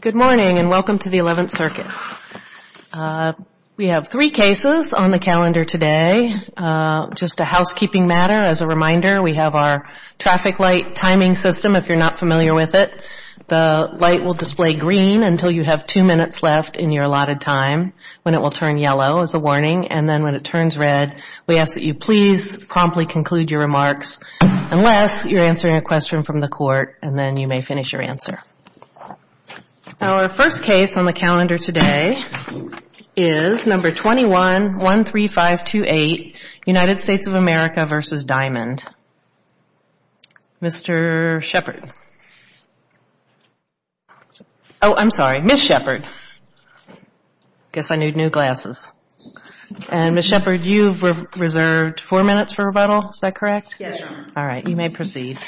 Good morning and welcome to the Eleventh Circuit. We have three cases on the calendar today. Just a housekeeping matter, as a reminder, we have our traffic light timing system if you're not familiar with it. The light will display green until you have two minutes left in your allotted time, when it will turn yellow as a warning, and then when it turns red, we ask that you please promptly conclude your remarks unless you're answering a question from the court, and then you may finish your answer. Our first case on the calendar today is number 21-13528, United States of America v. Diamond. Mr. Shepard. Oh, I'm sorry, Ms. Shepard. I guess I need new glasses. And Ms. Shepard, you've reserved four minutes for rebuttal, is that correct? Yes, Your Honor. All right, you may proceed.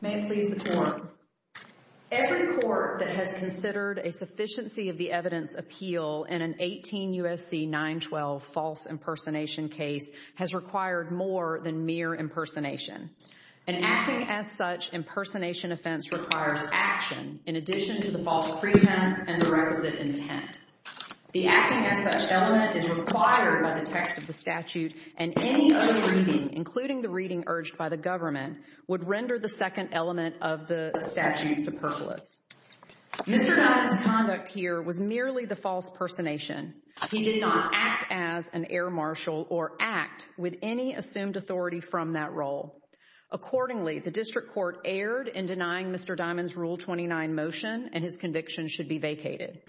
May it please the Court. Every court that has considered a sufficiency of the evidence appeal in an 18 U.S.C. 912 false impersonation case has required more than mere impersonation. An acting as such impersonation offense requires action in addition to the false pretense and the requisite intent. The acting as such element is required by the text of the statute, and any other reading, including the reading urged by the government, would render the second element of the statute superfluous. Mr. Diamond's conduct here was merely the false impersonation. He did not act as an air marshal or act with any assumed authority from that role. Accordingly, the District Court erred in denying Mr. Diamond's Rule 229 motion and his conviction should be vacated.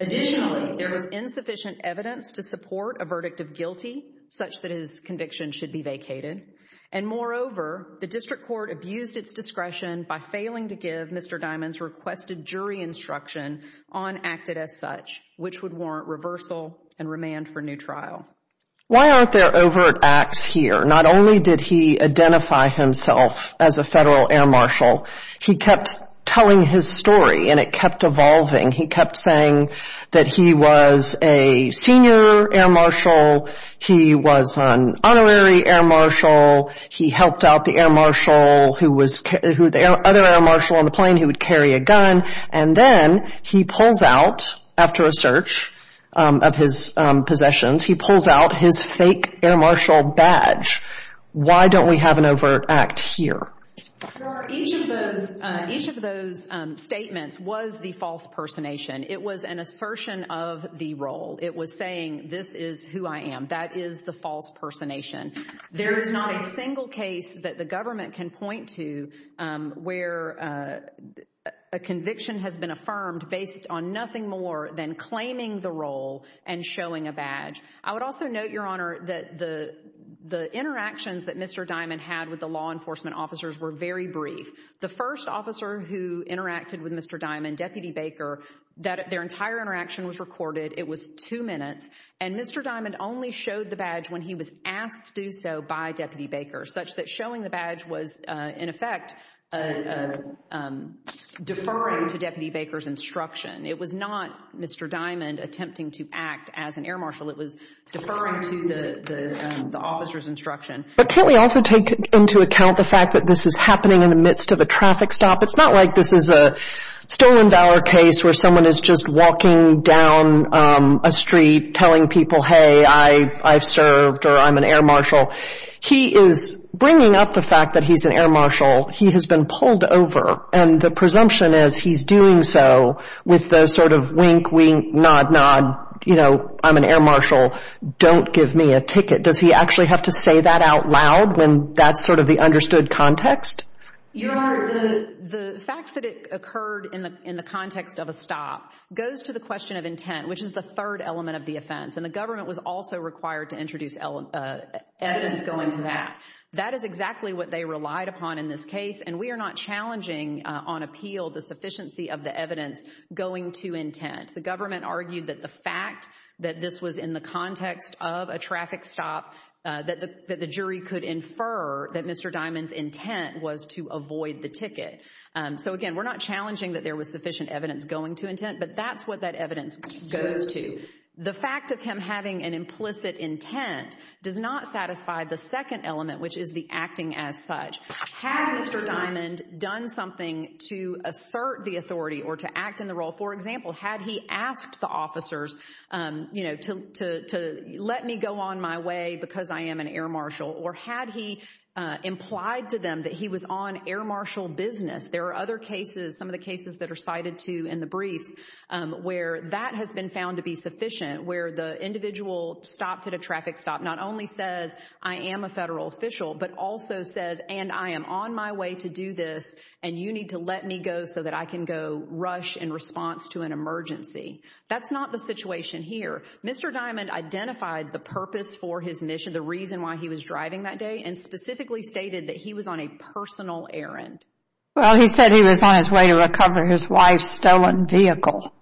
Additionally, there was insufficient evidence to support a verdict of guilty such that his conviction should be vacated. And moreover, the District Court abused its discretion by failing to give Mr. Diamond's requested jury instruction on acted as such, which would warrant reversal and remand for new trial. Why aren't there overt acts here? Not only did he identify himself as a federal air marshal, he kept telling his story and it kept evolving. He kept saying that he was a senior air marshal, he was an honorary air marshal, he helped out the other air marshal on the plane who would carry a gun, and then he pulls out, after a search of his possessions, he pulls out his fake air marshal badge. Why don't we have an overt act here? Your Honor, each of those statements was the false impersonation. It was an assertion of the role. It was saying this is who I am. That is the false impersonation. There is not a single case that the government can point to where a conviction has been affirmed based on nothing more than claiming the role and showing a badge. I would also note, Your Honor, that the interactions that Mr. Diamond had with the law enforcement officers were very brief. The first officer who interacted with Mr. Diamond, Deputy Baker, their entire interaction was recorded. It was two minutes. And Mr. Diamond only showed the badge when he was asked to do so by Deputy Baker, such that showing the badge was, in effect, deferring to Deputy Baker's instruction. It was not Mr. Diamond attempting to act as an air marshal. It was deferring to the officer's instruction. But can't we also take into account the fact that this is happening in the midst of a traffic stop? It's not like this is a Stoneman-Bower case where someone is just walking down a street telling people, hey, I've served, or I'm an air marshal. He is bringing up the fact that he's an air marshal. He has been pulled over, and the presumption is he's doing so with the sort of wink, wink, nod, nod, you know, I'm an air marshal. Don't give me a ticket. Does he actually have to say that out loud when that's sort of the understood context? Your Honor, the fact that it occurred in the context of a stop goes to the question of intent, which is the third element of the offense. And the government was also required to introduce evidence going to that. That is exactly what they relied upon in this on appeal, the sufficiency of the evidence going to intent. The government argued that the fact that this was in the context of a traffic stop, that the jury could infer that Mr. Diamond's intent was to avoid the ticket. So again, we're not challenging that there was sufficient evidence going to intent, but that's what that evidence goes to. The fact of him having an implicit intent does not satisfy the second element, which is the acting as such. Had Mr. Diamond done something to assert the authority or to act in the role? For example, had he asked the officers, you know, to let me go on my way because I am an air marshal, or had he implied to them that he was on air marshal business? There are other cases, some of the cases that are cited to in the briefs, where that has been found to be sufficient, where the individual stopped at a traffic stop not only says, I am a federal official, but also says, and I am on my way to do this, and you need to let me go so that I can go rush in response to an emergency. That's not the situation here. Mr. Diamond identified the purpose for his mission, the reason why he was driving that day, and specifically stated that he was on a personal errand. Well, he said he was on his way to recover his wife's stolen vehicle.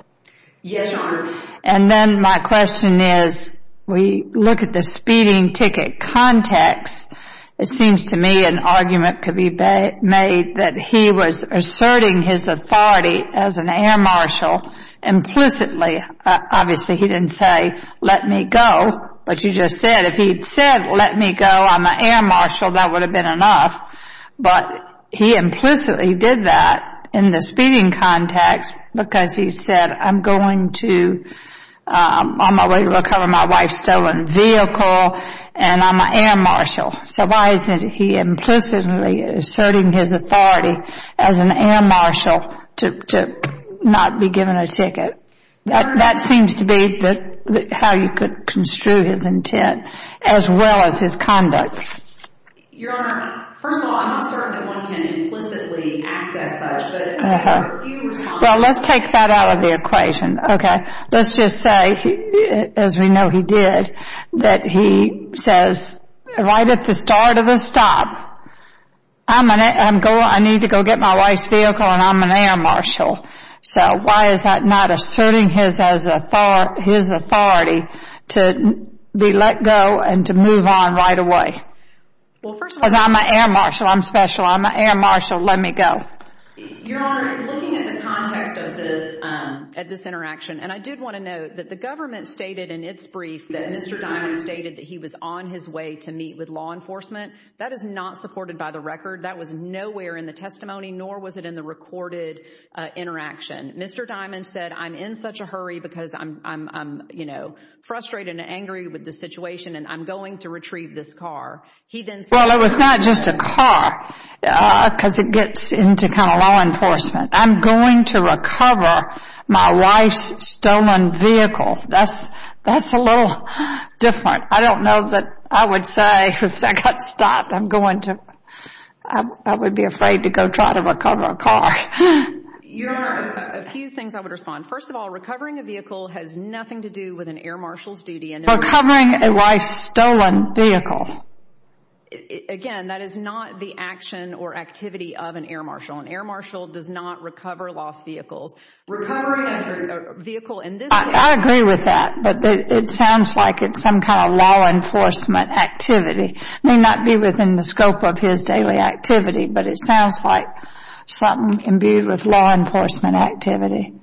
Yes, Your Honor. And then my question is, we look at the speeding ticket context, it seems to me an argument could be made that he was asserting his authority as an air marshal implicitly. Obviously, he didn't say, let me go, but you just said if he'd said, let me go, I'm an air marshal, that would have been enough, but he implicitly did that in the speeding context, because he said, I'm going to, I'm on my way to recover my wife's stolen vehicle, and I'm an air marshal. So why isn't he implicitly asserting his authority as an air marshal to not be given a ticket? That seems to be how you could construe his intent, as well as his conduct. Your Honor, first of all, I'm not certain that one can implicitly act as such. Well, let's take that out of the equation, okay? Let's just say, as we know he did, that he says, right at the start of the stop, I need to go get my wife's vehicle, and I'm an air marshal. So why is that not asserting his authority to be let go and to move on right away? Because I'm an air marshal. I'm special. I'm an air marshal. Let me go. Your Honor, looking at the context of this, at this interaction, and I did want to note that the government stated in its brief that Mr. Diamond stated that he was on his way to meet with law enforcement. That is not supported by the record. That was nowhere in the testimony, nor was it in the recorded interaction. Mr. Diamond said, I'm in such a hurry because I'm frustrated and angry with the situation, and I'm going to retrieve this car. Well, it was not just a car, because it gets into kind of law enforcement. I'm going to recover my wife's stolen vehicle. That's a little different. I don't know that I would say, if I got stopped, I would be afraid to go try to recover a car. Your Honor, a few things I would respond. First of all, recovering a vehicle has nothing to do with an air marshal's duty. Recovering a wife's stolen vehicle. Again, that is not the action or activity of an air marshal. An air marshal does not recover lost vehicles. Recovering a vehicle in this case. I agree with that, but it sounds like it's some kind of law enforcement activity. It may not be within the scope of his daily activity, but it sounds like something imbued with law enforcement activity.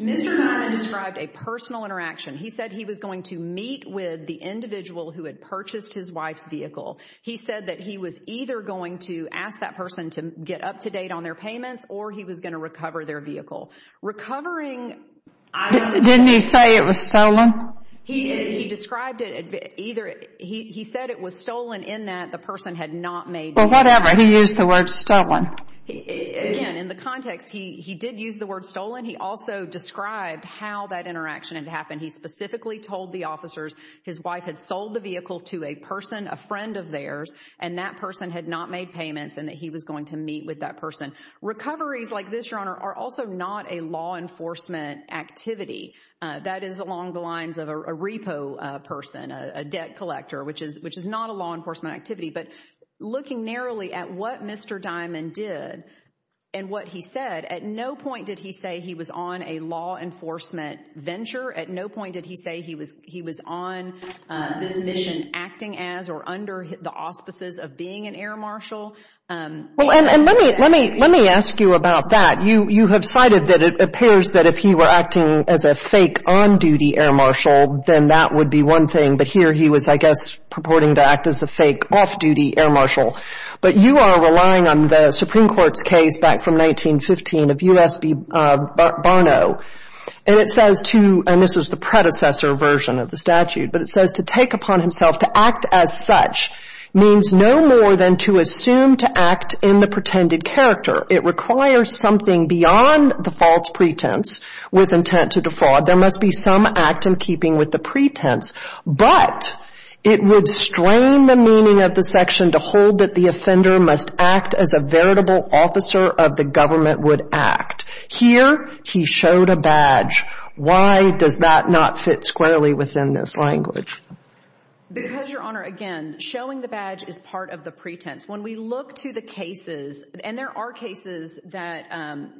Mr. Diamond described a personal interaction. He said he was going to meet with the individual who had purchased his wife's vehicle. He said that he was either going to ask that person to get up to date on their payments, or he was going to recover their vehicle. Recovering... Didn't he say it was stolen? He described it either... He said it was stolen in that the person had not made... Well, whatever. He used the word stolen. Again, in the context, he did use the word stolen. He also described how that interaction had happened. He specifically told the officers his wife had sold the vehicle to a person, a friend of theirs, and that person had not made payments and that he was going to meet with that person. Recoveries like this, Your Honor, are also not a law enforcement activity. That is along the lines of a repo person, a debt collector, which is not a law enforcement activity. But looking narrowly at what Mr. Diamond did and what he said, at no point did he say he was on a law enforcement venture. At no point did he say he was on this mission acting as or under the auspices of being an air marshal. Well, and let me ask you about that. You have cited that it appears that if he were acting as a fake on-duty air marshal, then that would be one thing. But here he was, I guess, purporting to act as a fake off-duty air marshal. But you are relying on the Supreme Court's case back from 1915 of U.S.B. Barnault. And it says to, and this is the predecessor version of the statute, but it says to take upon himself to act as such means no more than to assume to act in the pretended character. It requires something beyond the false pretense with intent to defraud. There must be some act in keeping with the pretense. But it would strain the meaning of the section to hold that the offender must act as a veritable officer of the government would act. Here, he showed a badge. Why does that not fit squarely within this language? Because, Your Honor, again, showing the badge is part of the pretense. When we look to the cases, and there are cases that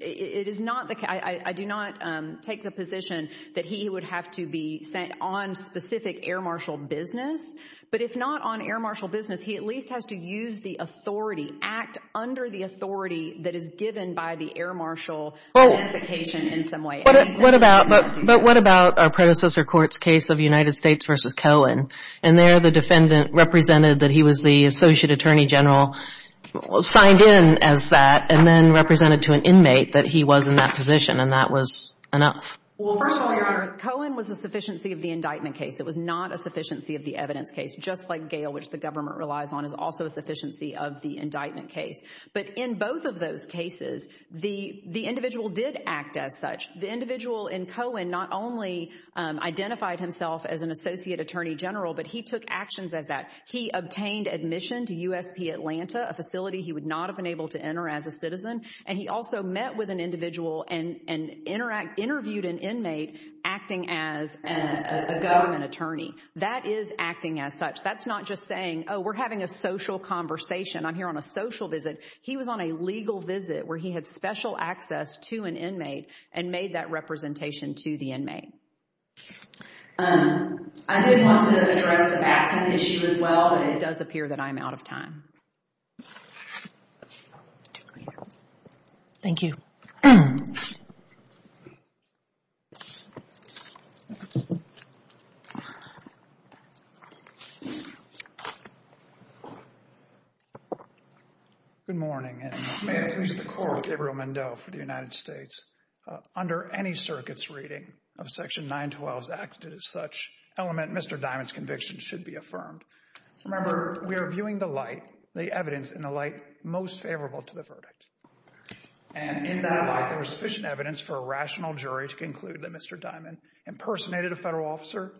it is not the case, I do not take the position that he would have to be sent on specific air marshal business. But if not on air marshal business, he at least has to use the authority, act under the authority that is given by the air marshal identification in some way. What about our predecessor court's case of United States v. Cohen? And there the defendant represented that he was the associate attorney general, signed in as that, and then represented to an inmate that he was in that position, and that was enough. Well, first of all, Your Honor, Cohen was a sufficiency of the indictment case. It was not a sufficiency of the evidence case, just like Gale, which the government relies on, is also a sufficiency of the indictment case. But in both of those cases, the individual did act as such. The individual in Cohen not only identified himself as an associate attorney general, but he took actions as that. He obtained admission to USP Atlanta, a facility he would not have been able to enter as a citizen. And he also met with an individual and interviewed an inmate acting as a government attorney. That is acting as such. That's not just saying, oh, we're having a social conversation. I'm here on a social visit. He was on a legal visit where he had special access to an inmate and made that representation to the inmate. I did want to address the vaccine issue as well, but it does appear that I'm out of time. Thank you. Good morning, and may it please the court, Gabriel Mendoza for the United States. Under any circuit's reading of Section 912's acted as such element, Mr. Diamond's conviction should be affirmed. Remember, we are viewing the light, the evidence in the light most favorable to the verdict. And in that light, there was sufficient evidence for a rational jury to conclude that Mr. Diamond impersonated a federal officer,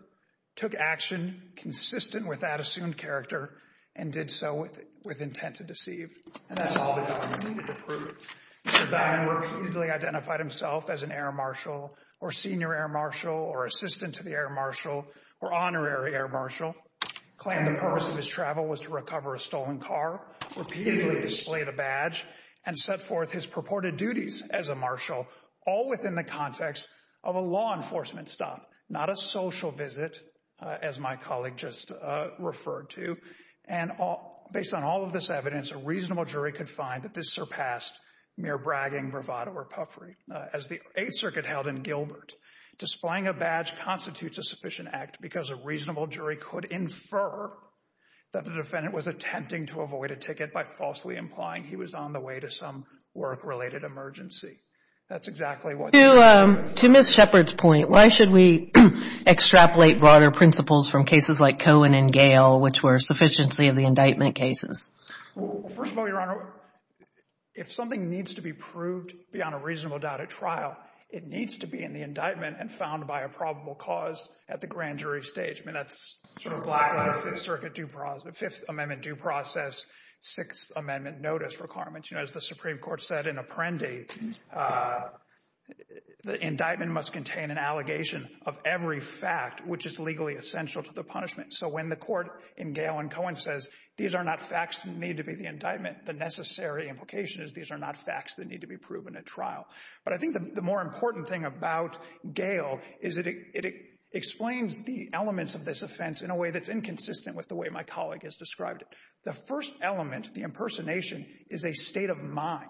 took action consistent with that assumed character, and did so with intent to deceive. And that's all the evidence we need to prove. Mr. Diamond repeatedly identified himself as an air marshal or senior air marshal or assistant to the air marshal or honorary air marshal, claimed the purpose of his travel was to recover a stolen car, repeatedly displayed a badge, and set forth his purported duties as a marshal, all within the context of a law enforcement stop, not a social visit, as my colleague just mere bragging bravado or puffery. As the Eighth Circuit held in Gilbert, displaying a badge constitutes a sufficient act because a reasonable jury could infer that the defendant was attempting to avoid a ticket by falsely implying he was on the way to some work-related emergency. That's exactly what this case is. To Ms. Shepard's point, why should we extrapolate broader principles from cases like Cohen and Gale, which were sufficiency of the indictment cases? First of all, Your Honor, if something needs to be proved beyond a reasonable doubt at trial, it needs to be in the indictment and found by a probable cause at the grand jury stage. I mean, that's sort of black-letter Fifth Amendment due process, Sixth Amendment notice requirements. You know, as the Supreme Court said in Apprendi, the indictment must contain an allegation of every fact which is legally essential to the punishment. So when the court in Gale and Cohen says, these are not facts that need to be in the indictment, the necessary implication is these are not facts that need to be proven at trial. But I think the more important thing about Gale is that it explains the elements of this offense in a way that's inconsistent with the way my colleague has described it. The first element, the impersonation, is a state of mind.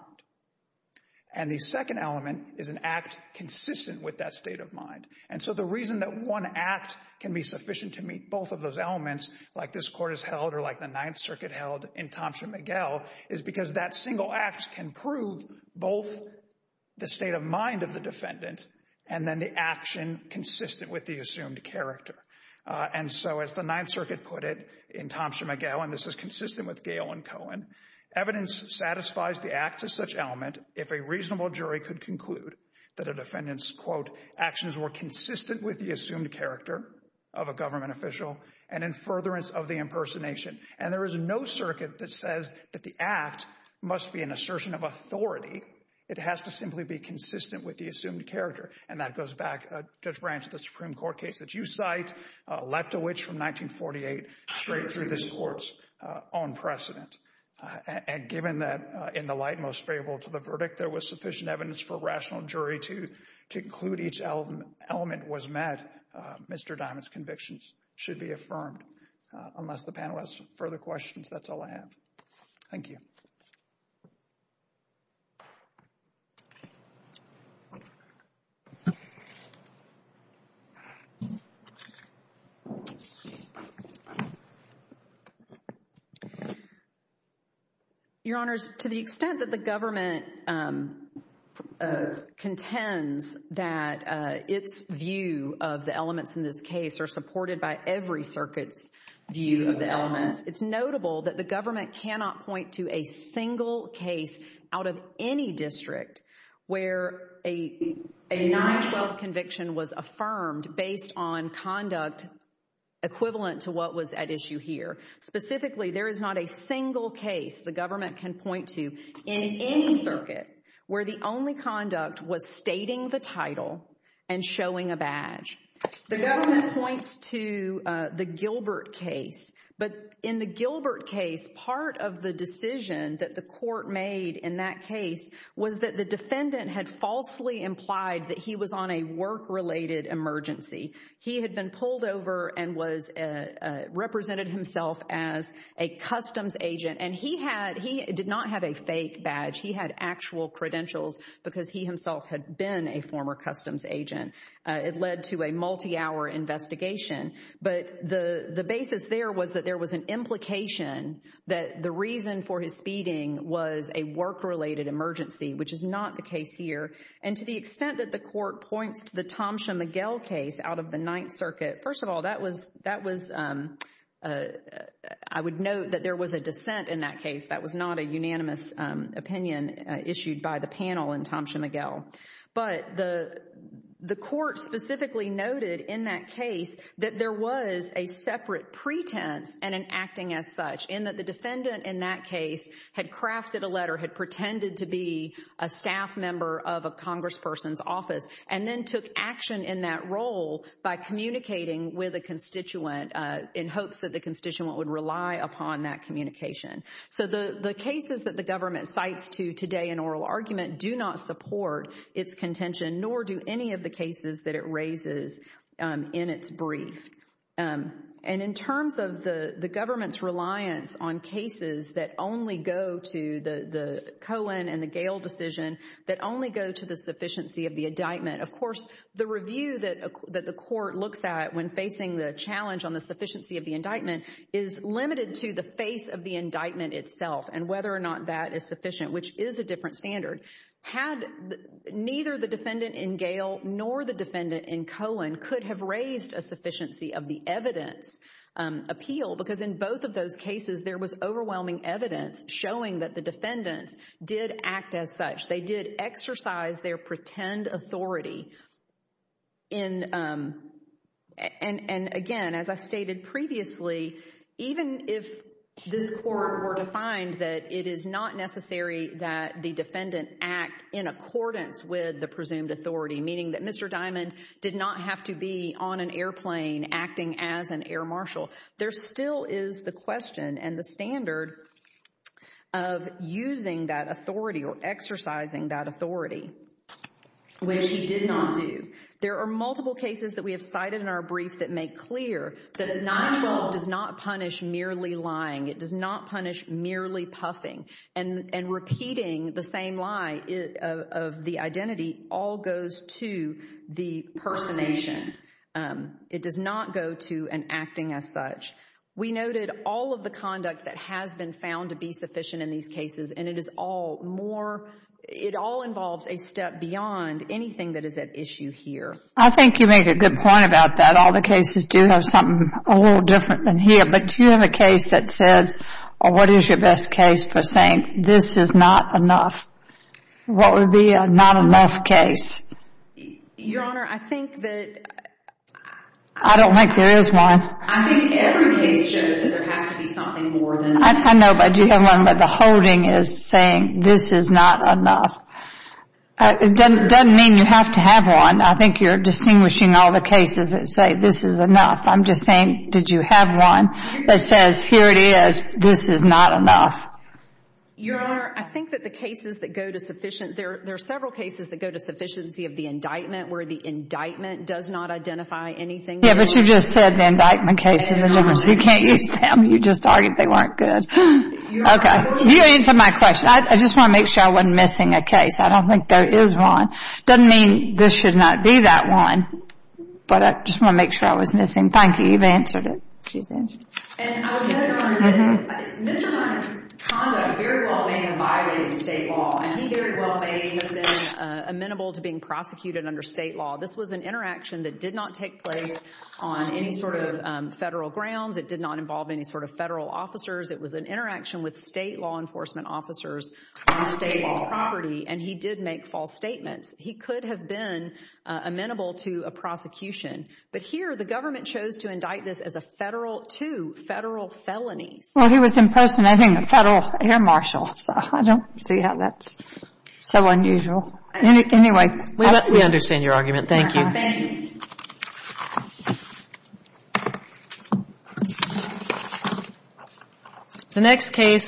And the second element is an act consistent with that state of mind. And so the reason that one act can be sufficient to meet both of those elements, like this court has held or like the Ninth Circuit held in Thompson-McGill, is because that single act can prove both the state of mind of the defendant and then the action consistent with the assumed character. And so as the Ninth Circuit put it in Thompson-McGill, and this is consistent with Gale and Cohen, evidence satisfies the act to such element if a reasonable jury could conclude that a defendant's, quote, actions were consistent with the assumed character of a government official and in furtherance of the impersonation. And there is no circuit that says that the act must be an assertion of authority. It has to simply be consistent with the assumed character. And that goes back, Judge Branch, the Supreme Court case that you cite, Leptovich from 1948, straight through this court's own precedent. And given that in the light most favorable to the verdict, there was sufficient evidence for a rational jury to conclude each element was met, Mr. Dimon's convictions should be affirmed. Unless the panel has further questions, that's all I have. Thank you. Your Honors, to the extent that the government contends that its view of the elements in this case are supported by every circuit's view of the elements, it's notable that the government cannot point to a single case out of any district where a 9-12 conviction was affirmed based on conduct equivalent to what was at issue here. Specifically, there is not a single case the government can point to in any circuit where the only conduct was stating the title and showing a decision that the court made in that case was that the defendant had falsely implied that he was on a work-related emergency. He had been pulled over and was represented himself as a customs agent, and he did not have a fake badge. He had actual credentials because he himself had been a former customs agent. It led to a multi-hour investigation. But the basis there was an implication that the reason for his feeding was a work-related emergency, which is not the case here. And to the extent that the court points to the Thomson-McGill case out of the Ninth Circuit, first of all, I would note that there was a dissent in that case. That was not a unanimous opinion issued by the panel in Thomson-McGill. But the court specifically noted in that case that there was a separate pretense and an acting as such in that the defendant in that case had crafted a letter, had pretended to be a staff member of a congressperson's office, and then took action in that role by communicating with a constituent in hopes that the constituent would rely upon that communication. So the cases that the government cites to today in oral argument do not support its contention, nor do any of the cases that it raises in its brief. And in terms of the government's reliance on cases that only go to the Cohen and the Gale decision, that only go to the sufficiency of the indictment, of course, the review that the court looks at when facing the challenge on the sufficiency of the indictment is limited to the face of the indictment itself and whether or not that is sufficient, which is a different standard. Had neither the defendant in Gale nor the defendant in Cohen could have raised a sufficiency of the evidence appeal, because in both of those cases there was overwhelming evidence showing that the defendants did act as such. They did exercise their pretend authority. And again, as I stated previously, even if this court were to find that it is not necessary that the defendant act in accordance with the presumed authority, meaning that Mr. Diamond did not have to be on an airplane acting as an air marshal, there still is the question and the standard of using that authority or exercising that authority, which he did not do. There are multiple cases that we have cited in our brief that make clear that a 9-12 does not punish merely lying. It does not punish merely puffing. And repeating the same lie of the identity all goes to the personation. It does not go to an acting as such. We noted all of the conduct that has been found to be sufficient in these cases, and it is all more, it all involves a step beyond anything that is at issue here. I think you make a good point about that. All the cases do have something a little different than here. But do you have a case that said, what is your best case for saying this is not enough? What would be a not enough case? Your Honor, I think that... I don't think there is one. I think every case shows that there has to be something more than that. I know, but do you have one where the holding is saying this is not enough? It doesn't mean you have to have one. I think you're distinguishing all the cases that say this is enough. I'm just saying, did you have one that says, here it is, this is not enough? Your Honor, I think that the cases that go to sufficient, there are several cases that go to sufficiency of the indictment where the indictment does not identify anything. Yeah, but you just said the indictment case. You can't use them. You just argued they weren't good. Okay, you answered my question. I just want to make sure I wasn't missing a case. I don't think there is one. Doesn't mean this should not be that one, but I just want to make sure I was missing. Thank you. You've answered it. She's answered it. And I would add, Your Honor, that Mr. Lyman's conduct very well may have violated state law, and he very well may have been amenable to being prosecuted under state law. This was an interaction that did not take place on any sort of federal grounds. It did not involve any sort federal officers. It was an interaction with state law enforcement officers on state property, and he did make false statements. He could have been amenable to a prosecution, but here the government chose to indict this as a federal, two federal felonies. Well, he was impersonating a federal air marshal, so I don't see how that's so unusual. Anyway, we understand your argument. Thank you. The next case